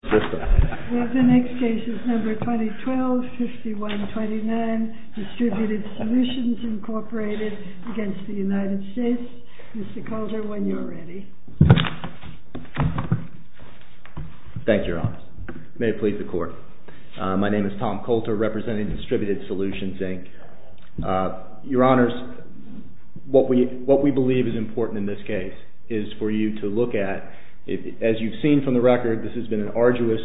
The next case is number 2012-5129, DISTRIBUTED SOLUTIONS, INC. v. United States. Mr. Coulter, when you're ready. Thank you, Your Honors. May it please the Court. My name is Tom Coulter, representing DISTRIBUTED SOLUTIONS, INC. Your Honors, what we believe is important in this case is for you to look at, as you've seen from the record, this has been an arduous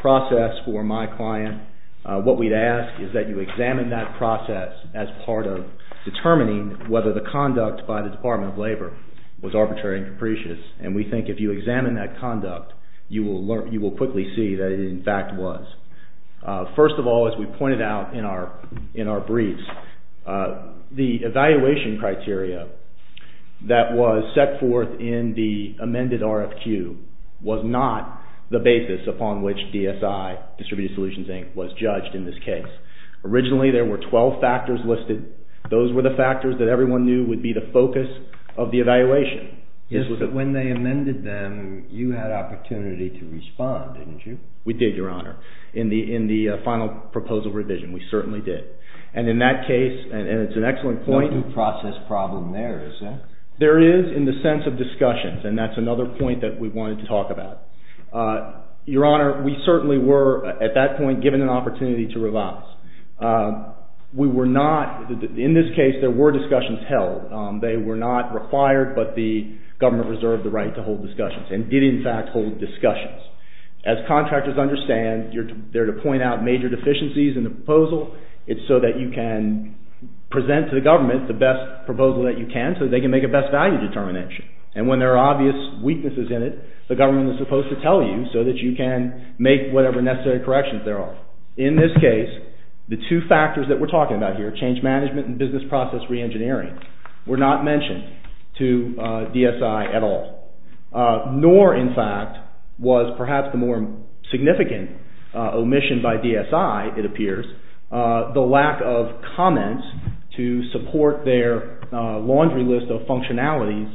process for my client. What we'd ask is that you examine that process as part of determining whether the conduct by the Department of Labor was arbitrary and capricious. And we think if you examine that conduct, you will quickly see that it in fact was. First of all, as we pointed out in our briefs, the evaluation criteria that was set forth in the amended RFQ was not the basis upon which DSI, DISTRIBUTED SOLUTIONS, INC., was judged in this case. Originally, there were 12 factors listed. Those were the factors that everyone knew would be the focus of the evaluation. Yes, but when they amended them, you had opportunity to respond, didn't you? We did, Your Honor. In the final proposal revision, we certainly did. And in that case, and it's an excellent point— No due process problem there, is there? There is, in the sense of discussions, and that's another point that we wanted to talk about. Your Honor, we certainly were, at that point, given an opportunity to revise. In this case, there were discussions held. They were not required, but the government reserved the right to hold discussions, and did in fact hold discussions. As contractors understand, they're there to point out major deficiencies in the proposal. It's so that you can present to the government the best proposal that you can, so they can make a best value determination. And when there are obvious weaknesses in it, the government is supposed to tell you so that you can make whatever necessary corrections there are. In this case, the two factors that we're talking about here, change management and business process re-engineering, were not mentioned to DSI at all. Nor, in fact, was perhaps the more significant omission by DSI, it appears, the lack of comments to support their laundry list of functionalities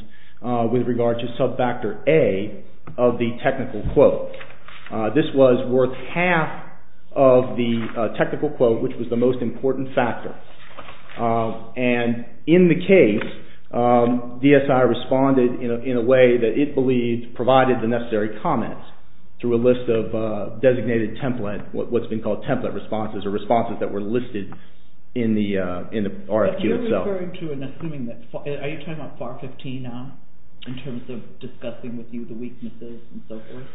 with regard to sub-factor A of the technical quote. This was worth half of the technical quote, which was the most important factor. And in the case, DSI responded in a way that it believed provided the necessary comments through a list of designated template, what's been called template responses, or responses that were listed in the RFQ itself. Are you talking about FAR 15 now, in terms of discussing with you the weaknesses and so forth?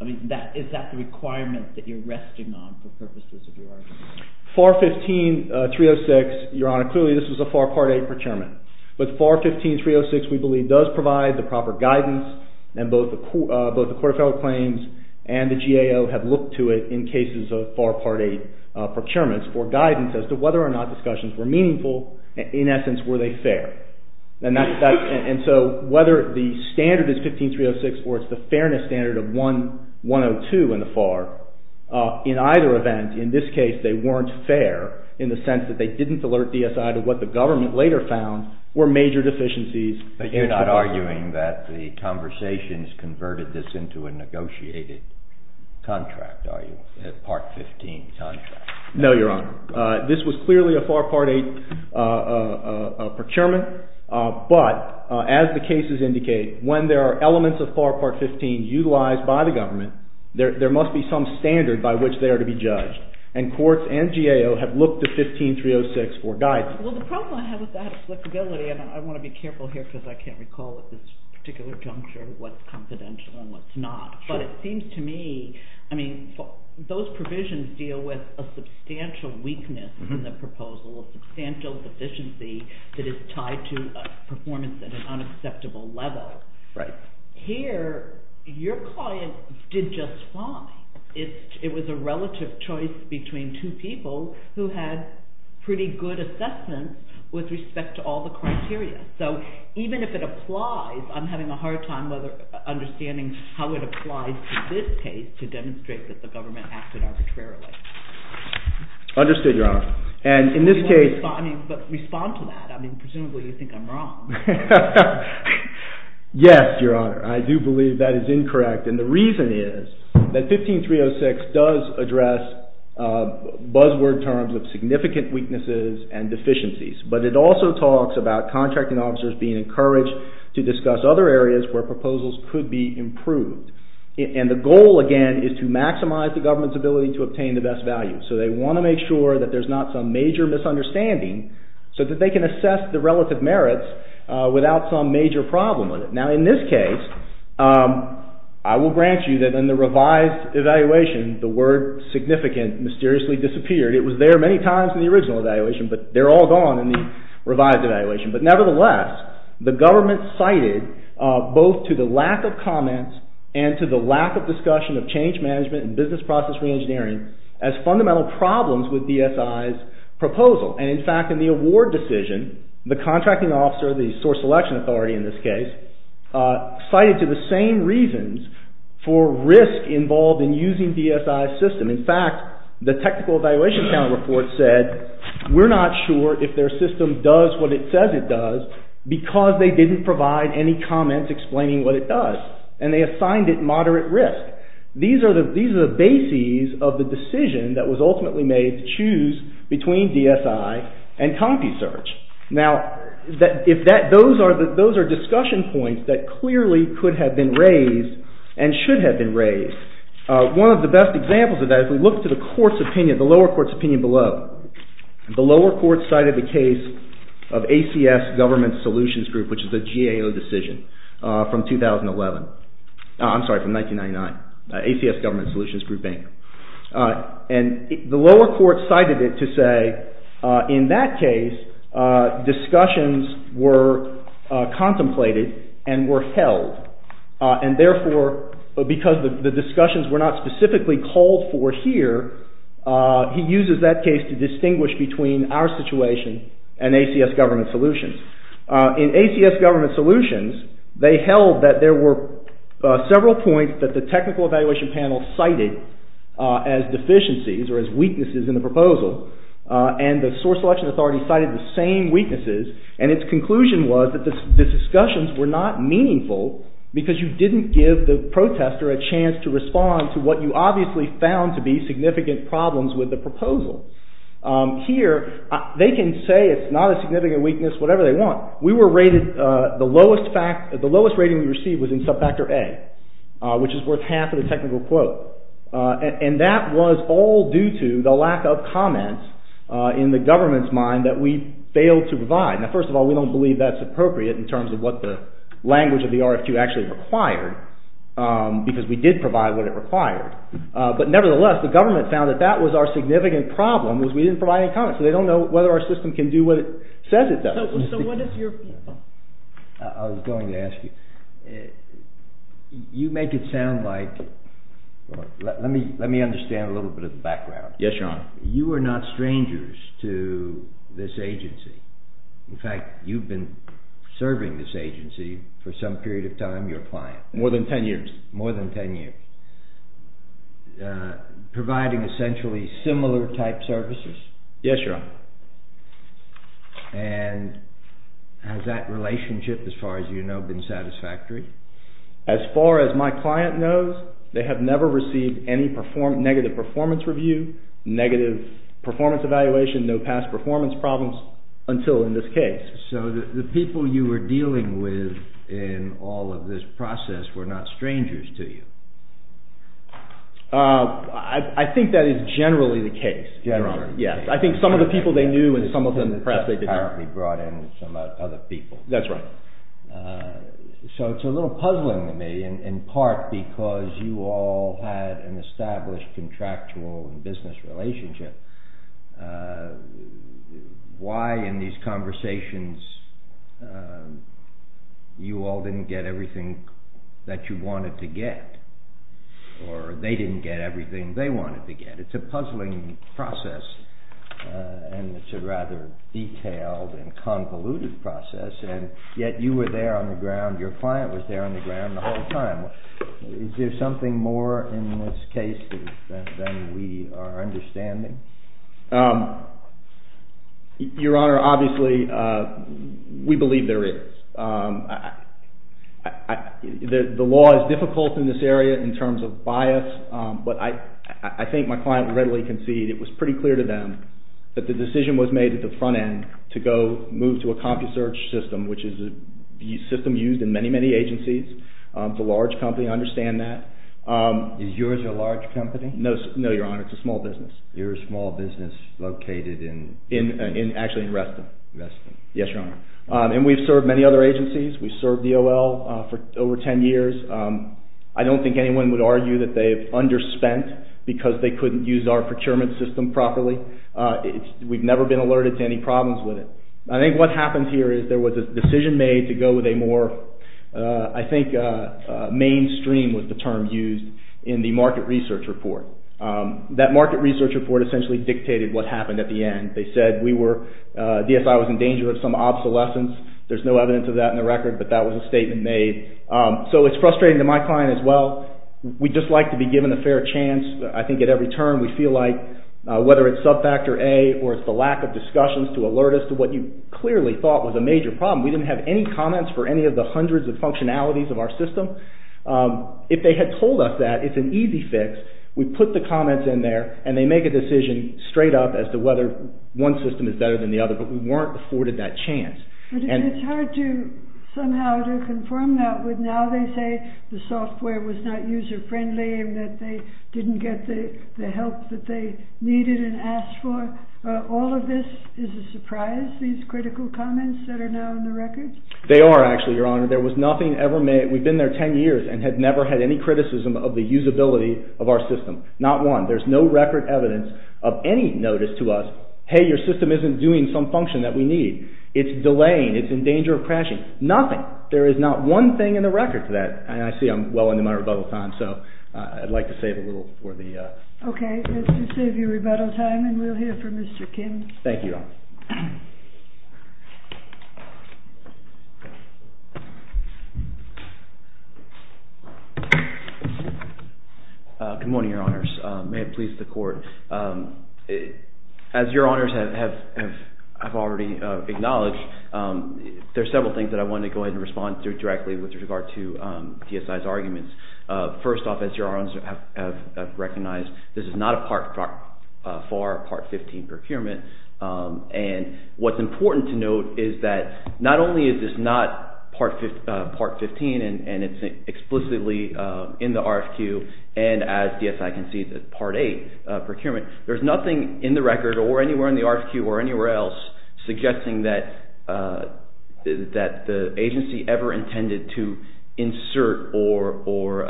I mean, is that the requirement that you're resting on for purposes of your argument? FAR 15-306, Your Honor, clearly this was a FAR Part 8 procurement. But FAR 15-306, we believe, does provide the proper guidance, and both the Court of Federal Claims and the GAO have looked to it in cases of FAR Part 8 procurements for guidance as to whether or not discussions were meaningful, and in essence, were they fair. And so, whether the standard is 15-306 or it's the fairness standard of 102 in the FAR, in either event, in this case, they weren't fair in the sense that they didn't alert DSI to what the government later found were major deficiencies. But you're not arguing that the conversations converted this into a negotiated contract, are you, a Part 15 contract? No, Your Honor. This was clearly a FAR Part 8 procurement. But, as the cases indicate, when there are elements of FAR Part 15 utilized by the government, there must be some standard by which they are to be judged. And courts and GAO have looked to 15-306 for guidance. Well, the problem I have with that flexibility, and I want to be careful here because I can't recall at this particular juncture what's confidential and what's not. But it seems to me, I mean, those provisions deal with a substantial weakness in the proposal, a substantial deficiency that is tied to performance at an unacceptable level. Right. Here, your client did just fine. It was a relative choice between two people who had pretty good assessment with respect to all the criteria. So even if it applies, I'm having a hard time understanding how it applies to this case to demonstrate that the government acted arbitrarily. Understood, Your Honor. And in this case... Respond to that. I mean, presumably you think I'm wrong. Yes, Your Honor. I do believe that is incorrect. And the reason is that 15-306 does address buzzword terms of significant weaknesses and deficiencies. But it also talks about contracting officers being encouraged to discuss other areas where proposals could be improved. And the goal, again, is to maximize the government's ability to obtain the best value. So they want to make sure that there's not some major misunderstanding so that they can assess the relative merits without some major problem with it. Now, in this case, I will grant you that in the revised evaluation, the word significant mysteriously disappeared. It was there many times in the original evaluation, but they're all gone in the revised evaluation. But nevertheless, the government cited both to the lack of comments and to the lack of discussion of change management and business process reengineering as fundamental problems with DSI's proposal. And in fact, in the award decision, the contracting officer, the source selection authority in this case, cited to the same reasons for risk involved in using DSI's system. In fact, the technical evaluation account report said, we're not sure if their system does what it says it does because they didn't provide any comments explaining what it does. And they assigned it moderate risk. These are the bases of the decision that was ultimately made to choose between DSI and CompuSearch. Now, those are discussion points that clearly could have been raised and should have been raised. One of the best examples of that, if we look to the lower court's opinion below, the lower court cited the case of ACS Government Solutions Group, which is a GAO decision from 2011. I'm sorry, from 1999. ACS Government Solutions Group, Inc. And the lower court cited it to say, in that case, discussions were contemplated and were held. And therefore, because the discussions were not specifically called for here, he uses that case to distinguish between our situation and ACS Government Solutions. In ACS Government Solutions, they held that there were several points that the technical evaluation panel cited as deficiencies or as weaknesses in the proposal. And the source selection authority cited the same weaknesses. And its conclusion was that the discussions were not meaningful because you didn't give the protester a chance to respond to what you obviously found to be significant problems with the proposal. Here, they can say it's not a significant weakness, whatever they want. We were rated, the lowest rating we received was in sub-factor A, which is worth half of the technical quote. And that was all due to the lack of comments in the government's mind that we failed to provide. Now, first of all, we don't believe that's appropriate in terms of what the language of the RFQ actually required, because we did provide what it required. But nevertheless, the government found that that was our significant problem, was we didn't provide any comments. So they don't know whether our system can do what it says it does. So what is your point? I was going to ask you, you make it sound like, let me understand a little bit of the background. Yes, Your Honor. You are not strangers to this agency. In fact, you've been serving this agency for some period of time, your client. More than 10 years. More than 10 years. Providing essentially similar type services. Yes, Your Honor. And has that relationship, as far as you know, been satisfactory? As far as my client knows, they have never received any negative performance review, negative performance evaluation, no past performance problems until in this case. So the people you were dealing with in all of this process were not strangers to you? I think that is generally the case. Generally. Yes, I think some of the people they knew and some of them perhaps they didn't. Apparently brought in some other people. That's right. So it's a little puzzling to me, in part because you all had an established contractual business relationship. Why in these conversations you all didn't get everything that you wanted to get? Or they didn't get everything they wanted to get. It's a puzzling process and it's a rather detailed and convoluted process. And yet you were there on the ground, your client was there on the ground the whole time. Is there something more in this case than we are understanding? Your Honor, obviously we believe there is. The law is difficult in this area in terms of bias, but I think my client readily conceded it was pretty clear to them that the decision was made at the front end to go move to a CompuSearch system, which is a system used in many, many agencies. It's a large company, I understand that. Is yours a large company? No, Your Honor, it's a small business. You're a small business located in? Actually in Reston. Reston. Yes, Your Honor. And we've served many other agencies. We've served DOL for over 10 years. I don't think anyone would argue that they've underspent because they couldn't use our procurement system properly. We've never been alerted to any problems with it. I think what happened here is there was a decision made to go with a more, I think, mainstream was the term used in the market research report. That market research report essentially dictated what happened at the end. They said we were, DSI was in danger of some obsolescence. There's no evidence of that in the record, but that was a statement made. So it's frustrating to my client as well. We just like to be given a fair chance. I think at every turn we feel like whether it's sub-factor A or it's the lack of discussions to alert us to what you clearly thought was a major problem. We didn't have any comments for any of the hundreds of functionalities of our system. If they had told us that, it's an easy fix. We put the comments in there and they make a decision straight up as to whether one system is better than the other, but we weren't afforded that chance. It's hard to somehow to conform that with now they say the software was not user friendly and that they didn't get the help that they needed and asked for. All of this is a surprise, these critical comments that are now in the record? They are actually, Your Honor. There was nothing ever made. We've been there ten years and had never had any criticism of the usability of our system. Not one. There's no record evidence of any notice to us. Hey, your system isn't doing some function that we need. It's delaying. It's in danger of crashing. Nothing. There is not one thing in the record to that. And I see I'm well into my rebuttal time, so I'd like to save a little for the... Okay. Let's just save your rebuttal time and we'll hear from Mr. Kim. Thank you, Your Honor. Good morning, Your Honors. May it please the Court. As Your Honors have already acknowledged, there are several things that I want to go ahead and respond to directly with regard to DSI's arguments. First off, as Your Honors have recognized, this is not a Part IV or Part XV procurement. And what's important to note is that not only is this not Part XV and it's explicitly in the RFQ, and as DSI can see, it's a Part VIII procurement. There's nothing in the record or anywhere in the RFQ or anywhere else suggesting that the agency ever intended to insert or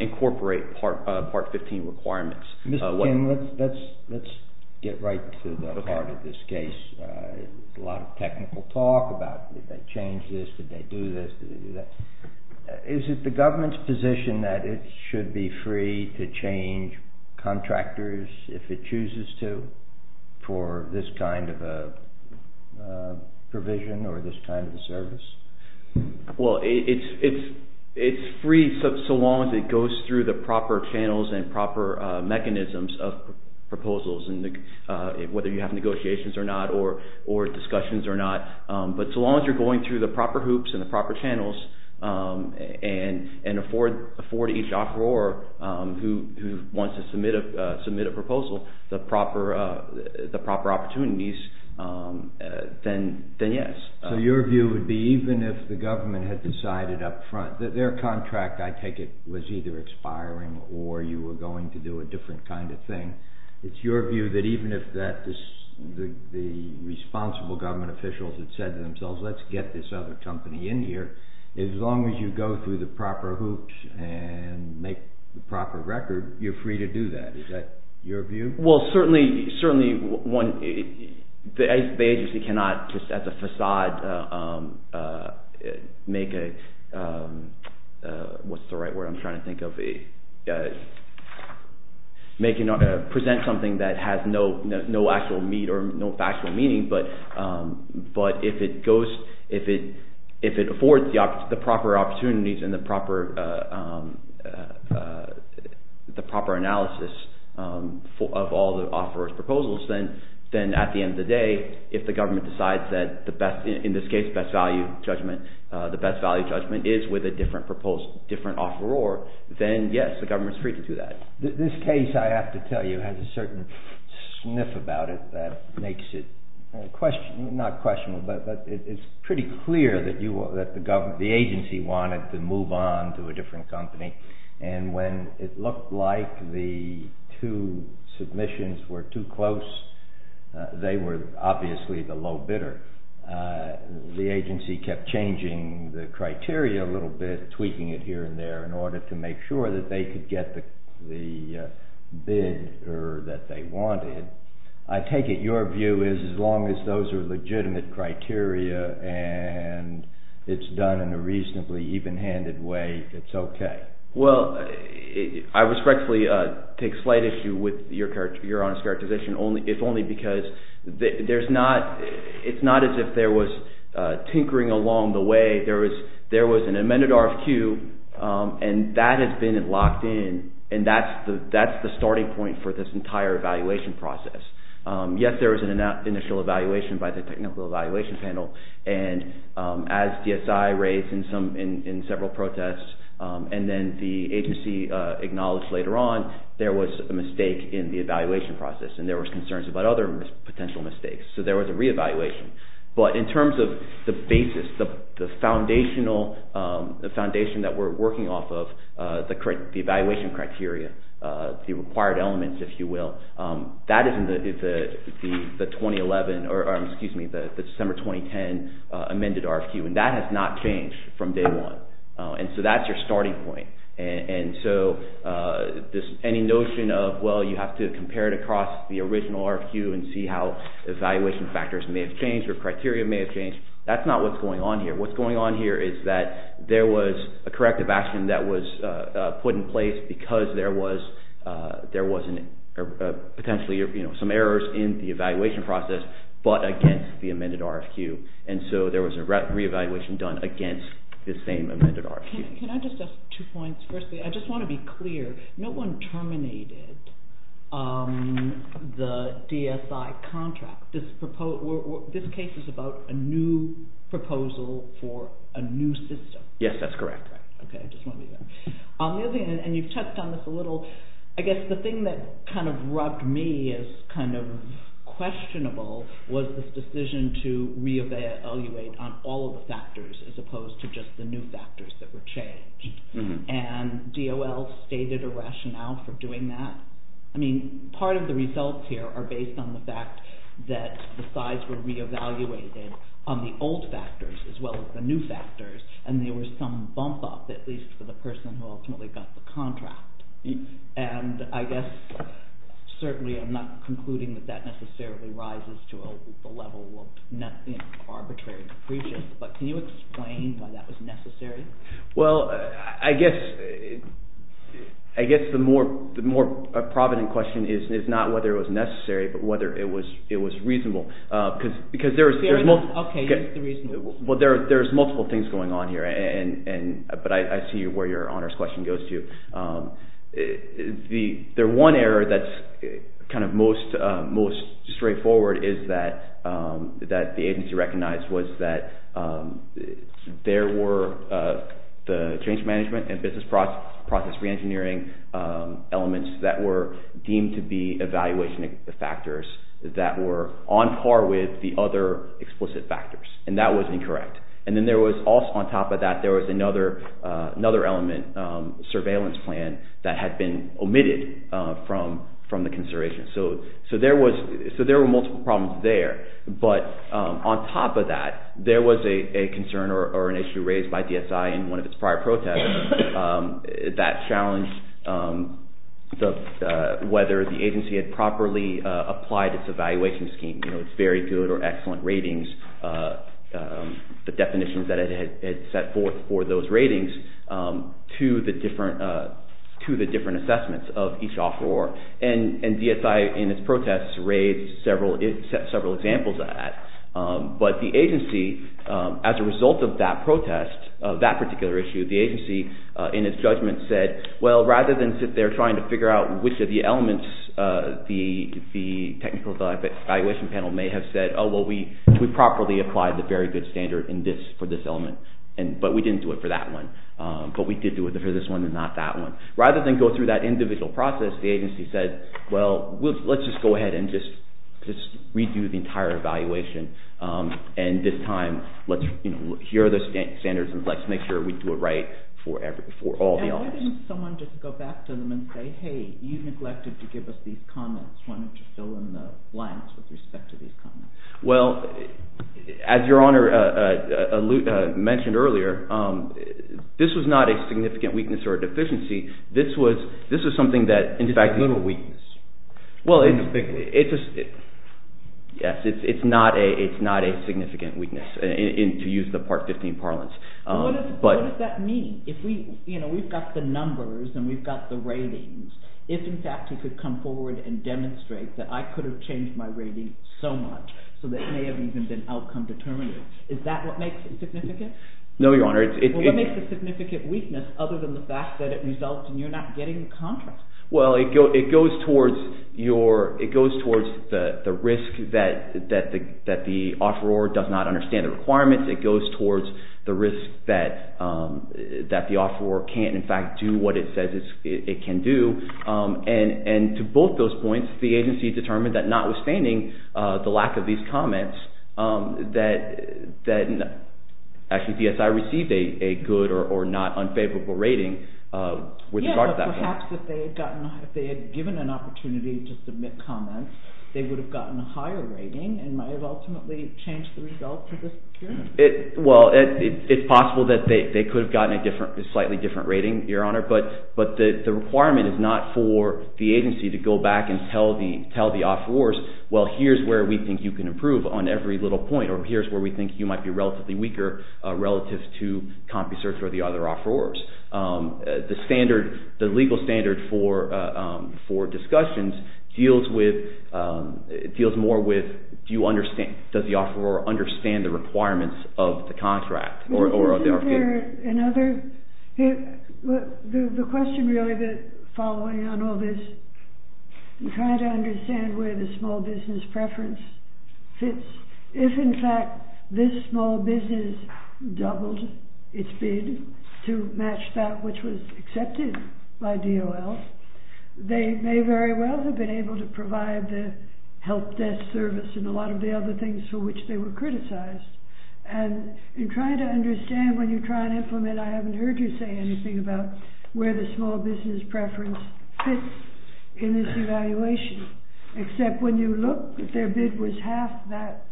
incorporate Part XV requirements. Mr. Kim, let's get right to the heart of this case. A lot of technical talk about did they change this, did they do this, did they do that. Is it the government's position that it should be free to change contractors if it chooses to for this kind of a provision or this kind of a service? Well, it's free so long as it goes through the proper channels and proper mechanisms of proposals, whether you have negotiations or not or discussions or not. But so long as you're going through the proper hoops and the proper channels and afford each offeror who wants to submit a proposal the proper opportunities, then yes. So your view would be even if the government had decided up front that their contract, I take it, was either expiring or you were going to do a different kind of thing, it's your view that even if the responsible government officials had said to themselves, let's get this other company in here, as long as you go through the proper hoops and make the proper record, you're free to do that. Is that your view? Well, certainly the agency cannot just as a facade make a – what's the right word I'm trying to think of – present something that has no actual meat or no factual meaning, but if it goes – if it affords the proper opportunities and the proper analysis of all the offeror's proposals, then at the end of the day if the government decides that the best – in this case best value judgment – the best value judgment is with a different offeror, then yes, the government's free to do that. This case, I have to tell you, has a certain sniff about it that makes it questionable – not questionable, but it's pretty clear that the agency wanted to move on to a different company, and when it looked like the two submissions were too close, they were obviously the low bidder. The agency kept changing the criteria a little bit, tweaking it here and there in order to make sure that they could get the bid that they wanted. I take it your view is as long as those are legitimate criteria and it's done in a reasonably even-handed way, it's okay. Well, I respectfully take slight issue with your honest characterization if only because there's not – it's not as if there was tinkering along the way. There was an amended RFQ, and that has been locked in, and that's the starting point for this entire evaluation process. Yes, there was an initial evaluation by the technical evaluation panel, and as DSI raised in several protests and then the agency acknowledged later on, there was a mistake in the evaluation process and there was concerns about other potential mistakes, so there was a reevaluation. But in terms of the basis, the foundation that we're working off of, the evaluation criteria, the required elements, if you will, that is in the 2011 – or, excuse me, the December 2010 amended RFQ, and that has not changed from day one, and so that's your starting point. And so any notion of, well, you have to compare it across the original RFQ and see how evaluation factors may have changed or criteria may have changed, that's not what's going on here. What's going on here is that there was a corrective action that was put in place because there was potentially some errors in the evaluation process but against the amended RFQ, and so there was a reevaluation done against the same amended RFQ. Can I just ask two points? Firstly, I just want to be clear. No one terminated the DSI contract. This case is about a new proposal for a new system. Yes, that's correct. Okay, I just want to be clear. And you've touched on this a little. I guess the thing that kind of rubbed me as kind of questionable was this decision to re-evaluate on all of the factors as opposed to just the new factors that were changed, and DOL stated a rationale for doing that. I mean, part of the results here are based on the fact that the sides were re-evaluated on the old factors as well as the new factors, and there was some bump-up, at least for the person who ultimately got the contract. And I guess certainly I'm not concluding that that necessarily rises to a level of arbitrary depreciation, but can you explain why that was necessary? Well, I guess the more provident question is not whether it was necessary but whether it was reasonable because there's multiple things going on. But I see where your honors question goes to. The one error that's kind of most straightforward is that the agency recognized was that there were the change management and business process re-engineering elements that were deemed to be evaluation factors that were on par with the other explicit factors, and that was incorrect. And then on top of that there was another element, surveillance plan, that had been omitted from the consideration. So there were multiple problems there. But on top of that, there was a concern or an issue raised by DSI in one of its prior protests that challenged whether the agency had properly applied its evaluation scheme. You know, its very good or excellent ratings, the definitions that it had set forth for those ratings to the different assessments of each offeror. And DSI in its protests raised several examples of that. But the agency, as a result of that protest, of that particular issue, the agency in its judgment said, well, rather than sit there trying to figure out which of the elements the technical evaluation panel may have said, oh, well, we properly applied the very good standard for this element, but we didn't do it for that one. But we did do it for this one and not that one. Rather than go through that individual process, the agency said, well, let's just go ahead and just redo the entire evaluation. And this time, let's, you know, here are the standards and let's make sure we do it right for all the offers. And why didn't someone just go back to them and say, hey, you neglected to give us these comments. Why don't you fill in the blanks with respect to these comments? Well, as Your Honor mentioned earlier, this was not a significant weakness or deficiency. This was something that, in fact… It's a little weakness. Yes, it's not a significant weakness, to use the Part 15 parlance. What does that mean? You know, we've got the numbers and we've got the ratings. If, in fact, you could come forward and demonstrate that I could have changed my rating so much so that it may have even been outcome determinative, is that what makes it significant? No, Your Honor. Well, what makes it a significant weakness other than the fact that it results in you not getting the contract? Well, it goes towards the risk that the offeror does not understand the requirements. It goes towards the risk that the offeror can't, in fact, do what it says it can do. And to both those points, the agency determined that notwithstanding the lack of these comments, that actually DSI received a good or not unfavorable rating with regard to that point. Perhaps if they had given an opportunity to submit comments, they would have gotten a higher rating and might have ultimately changed the results of this hearing. Well, it's possible that they could have gotten a slightly different rating, Your Honor, but the requirement is not for the agency to go back and tell the offerors, well, here's where we think you can improve on every little point, or here's where we think you might be relatively weaker relative to CompuSearch or the other offerors. The standard, the legal standard for discussions deals with, deals more with, do you understand, does the offeror understand the requirements of the contract? Isn't there another, the question really, the following on all this, you try to understand where the small business preference fits. If, in fact, this small business doubled its bid to match that which was accepted by DOL, they may very well have been able to provide the help desk service and a lot of the other things for which they were criticized. And in trying to understand when you try and implement, I haven't heard you say anything about where the small business preference fits in this evaluation, except when you look, if their bid was half that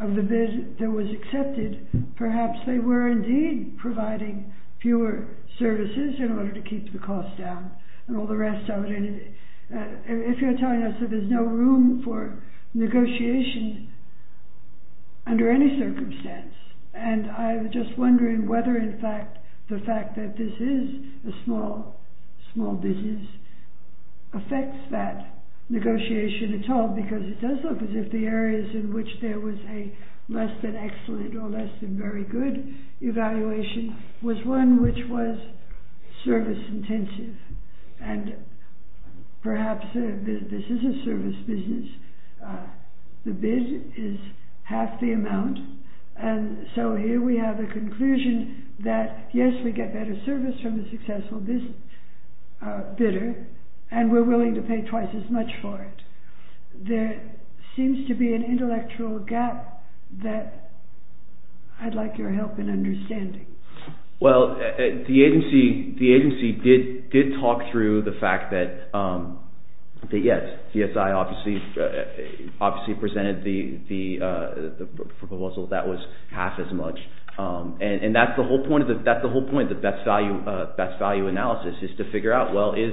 of the bid that was accepted, perhaps they were indeed providing fewer services in order to keep the cost down and all the rest of it. If you're telling us that there's no room for negotiation under any circumstance, and I'm just wondering whether, in fact, the fact that this is a small business affects that negotiation at all, because it does look as if the areas in which there was a less than excellent or less than very good evaluation was one which was service intensive. And perhaps this is a service business, the bid is half the amount, and so here we have a conclusion that, yes, we get better service from a successful bidder, and we're willing to pay twice as much for it. There seems to be an intellectual gap that I'd like your help in understanding. Well, the agency did talk through the fact that, yes, CSI obviously presented the proposal that was half as much. And that's the whole point of the best value analysis, is to figure out, well, is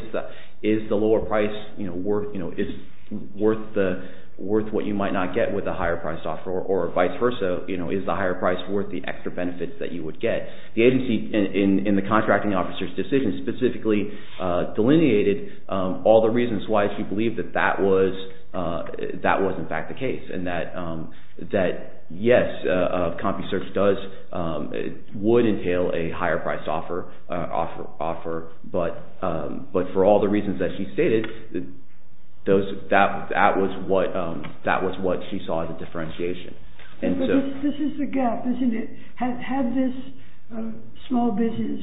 the lower price worth what you might not get with a higher priced offer, or vice versa, is the higher price worth the extra benefits that you would get? The agency, in the contracting officer's decision, specifically delineated all the reasons why she believed that that was in fact the case, and that, yes, CompuSearch would entail a higher priced offer, but for all the reasons that she stated, that was what she saw as a differentiation. This is the gap, isn't it? Had this small business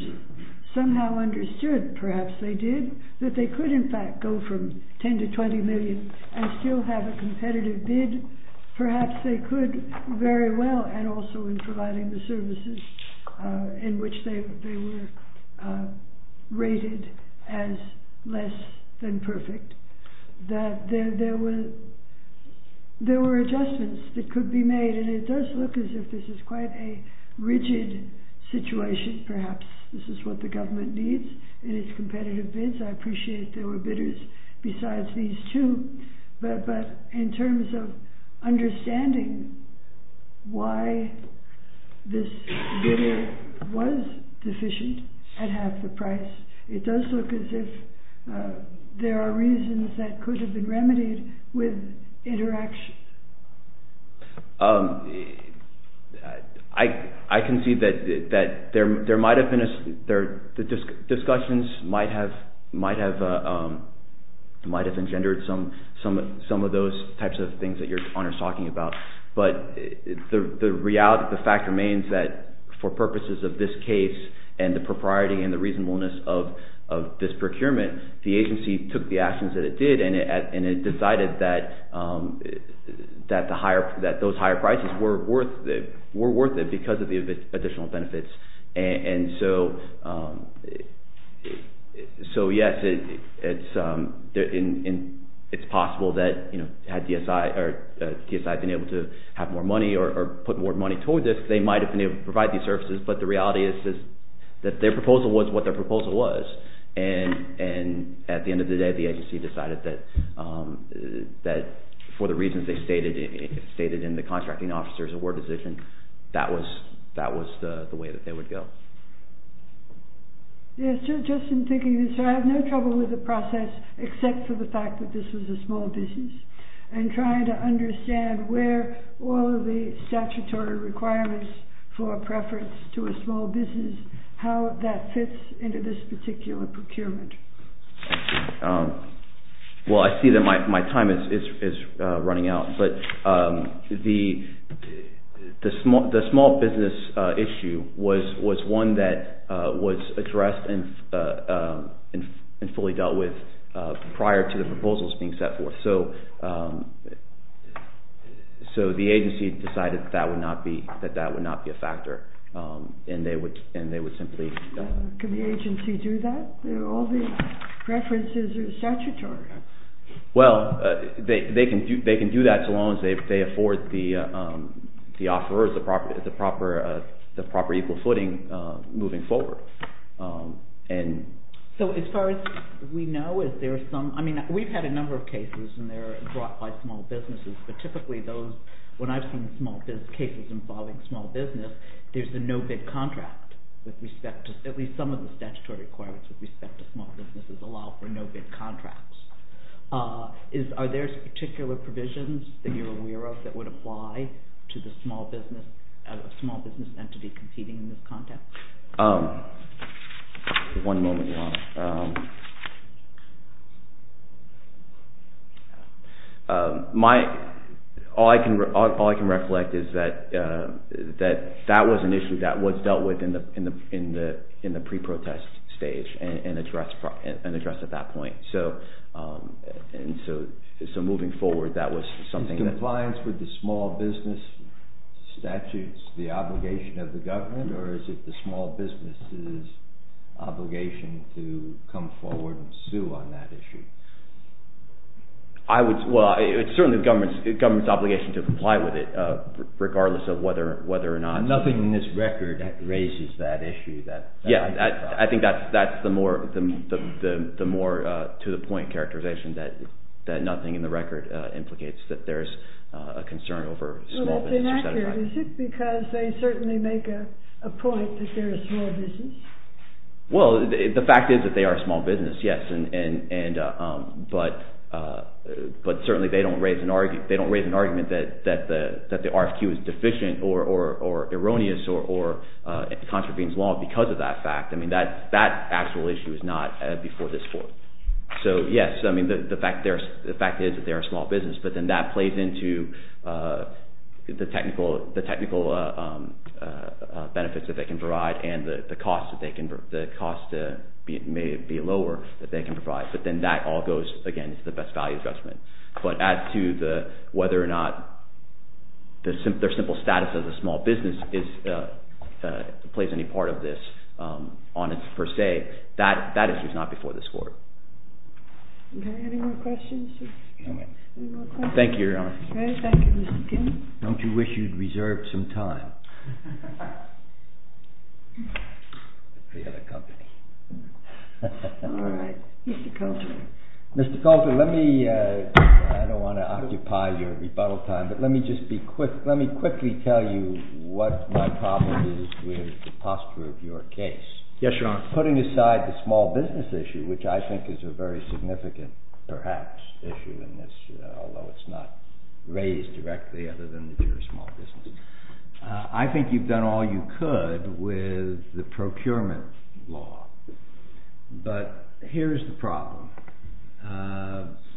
somehow understood, perhaps they did, that they could in fact go from $10 to $20 million and still have a competitive bid, perhaps they could very well, and also in providing the services in which they were rated as less than perfect, that there were adjustments that could be made, and it does look as if this is quite a rigid situation, perhaps. This is what the government needs in its competitive bids. I appreciate there were bidders besides these two, but in terms of understanding why this bidder was deficient at half the price, it does look as if there are reasons that could have been remedied with interaction. I can see that discussions might have engendered some of those types of things that your Honor is talking about, but the fact remains that for purposes of this case, and the propriety and the reasonableness of this procurement, the agency took the actions that it did, and it decided that those higher prices were worth it because of the additional benefits. So yes, it's possible that had DSI been able to have more money or put more money toward this, they might have been able to provide these services, but the reality is that their proposal was what their proposal was, and at the end of the day, the agency decided that for the reasons they stated in the contracting officer's award decision, that was the way that they would go. Yes, just in thinking of this, I have no trouble with the process except for the fact that this was a small business, and trying to understand where all of the statutory requirements for preference to a small business, and how that fits into this particular procurement. Well, I see that my time is running out, but the small business issue was one that was addressed and fully dealt with prior to the proposals being set forth. So the agency decided that that would not be a factor, and they would simply... Can the agency do that? All the preferences are statutory. Well, they can do that so long as they afford the offerors the proper equal footing moving forward. So as far as we know, we've had a number of cases and they're brought by small businesses, but typically those, when I've seen small business cases involving small business, there's a no-bid contract with respect to, at least some of the statutory requirements with respect to small businesses allow for no-bid contracts. Are there particular provisions that you're aware of that would apply to the small business entity competing in this context? One moment, Ron. All I can reflect is that that was an issue that was dealt with in the pre-protest stage and addressed at that point. So moving forward, that was something that... Is compliance with the small business statutes the obligation of the government, or is it the small business' obligation to come forward and sue on that issue? Well, it's certainly the government's obligation to comply with it, regardless of whether or not... And nothing in this record raises that issue. Yeah, I think that's the more to-the-point characterization, that nothing in the record implicates that there's a concern over small business... Well, it's inaccurate, is it? Because they certainly make a point that they're a small business. Well, the fact is that they are a small business, yes, but certainly they don't raise an argument that the RFQ is deficient or erroneous or contravenes law because of that fact. I mean, that actual issue is not before this Court. So yes, I mean, the fact is that they're a small business, but then that plays into the technical benefits that they can provide and the cost may be lower that they can provide, but then that all goes against the best value adjustment. But as to whether or not their simple status as a small business plays any part of this on its per se, that issue is not before this Court. Okay, any more questions? Thank you, Your Honor. Okay, thank you, Mr. King. Don't you wish you'd reserved some time for the other company? All right, Mr. Coulter. Mr. Coulter, let me, I don't want to occupy your rebuttal time, but let me just be quick, let me quickly tell you what my problem is with the posture of your case. Yes, Your Honor. Putting aside the small business issue, which I think is a very significant, perhaps, issue in this, although it's not raised directly other than that you're a small business, I think you've done all you could with the procurement law. But here's the problem.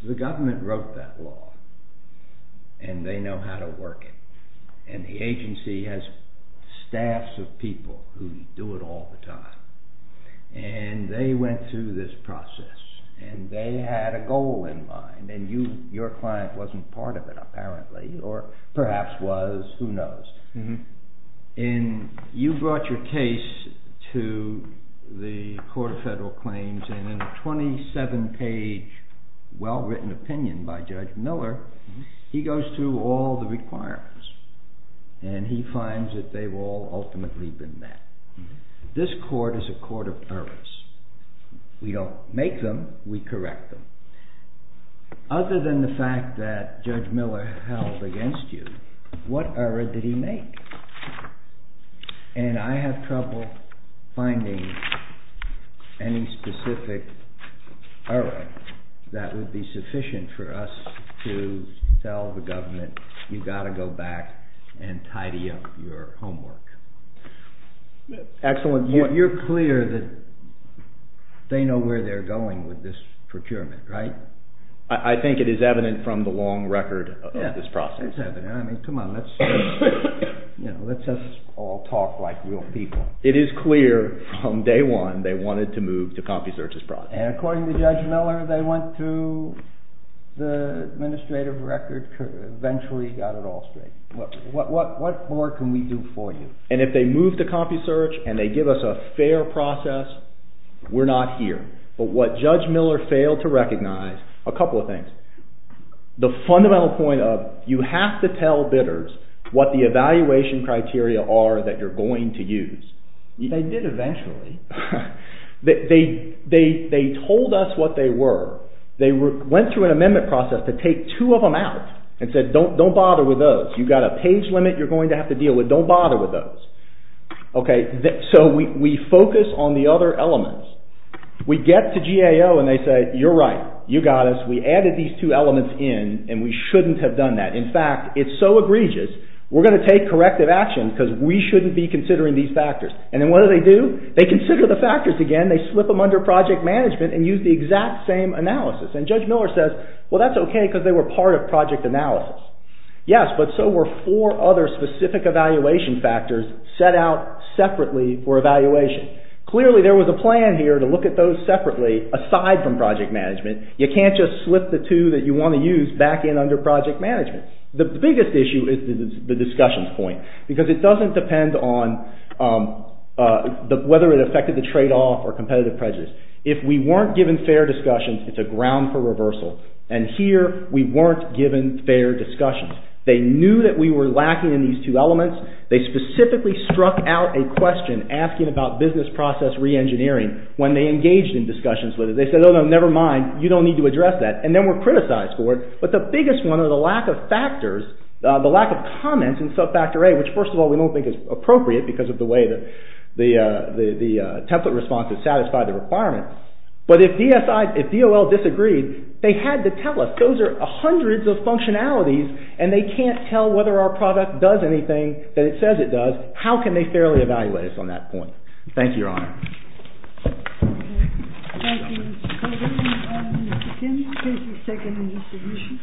The government wrote that law, and they know how to work it, and the agency has staffs of people who do it all the time. And they went through this process, and they had a goal in mind, and your client wasn't part of it, apparently, or perhaps was, who knows. And you brought your case to the Court of Federal Claims, and in a 27-page, well-written opinion by Judge Miller, he goes through all the requirements, and he finds that they've all ultimately been met. This court is a court of errors. We don't make them, we correct them. Other than the fact that Judge Miller held against you, what error did he make? And I have trouble finding any specific error that would be sufficient for us to tell the government, you've got to go back and tidy up your homework. Excellent point. You're clear that they know where they're going with this procurement, right? I think it is evident from the long record of this process. It's evident. I mean, come on, let's just all talk like real people. It is clear from day one they wanted to move to CompuSearch's process. And according to Judge Miller, they went through the administrative record, eventually got it all straight. What more can we do for you? And if they move to CompuSearch and they give us a fair process, we're not here. But what Judge Miller failed to recognize, a couple of things. The fundamental point of, you have to tell bidders what the evaluation criteria are that you're going to use. They did eventually. They told us what they were. They went through an amendment process to take two of them out and said, Don't bother with those. You've got a page limit you're going to have to deal with. Don't bother with those. So we focus on the other elements. We get to GAO and they say, you're right, you got us. We added these two elements in and we shouldn't have done that. In fact, it's so egregious, we're going to take corrective action because we shouldn't be considering these factors. And then what do they do? They consider the factors again. They slip them under project management and use the exact same analysis. And Judge Miller says, well that's okay because they were part of project analysis. Yes, but so were four other specific evaluation factors set out separately for evaluation. Clearly there was a plan here to look at those separately aside from project management. You can't just slip the two that you want to use back in under project management. The biggest issue is the discussion point because it doesn't depend on whether it affected the tradeoff or competitive prejudice. If we weren't given fair discussions, it's a ground for reversal. And here we weren't given fair discussions. They knew that we were lacking in these two elements. They specifically struck out a question asking about business process reengineering when they engaged in discussions with us. They said, oh no, never mind, you don't need to address that. And then we're criticized for it. But the biggest one are the lack of factors, the lack of comments in subfactor A, which first of all we don't think is appropriate because of the way the template response has satisfied the requirement. But if DOL disagreed, they had to tell us. Those are hundreds of functionalities and they can't tell whether our product does anything that it says it does. How can they fairly evaluate us on that point? Thank you, Your Honor. Thank you, Mr. Colvin. Mr. Kim, please be second in your submission.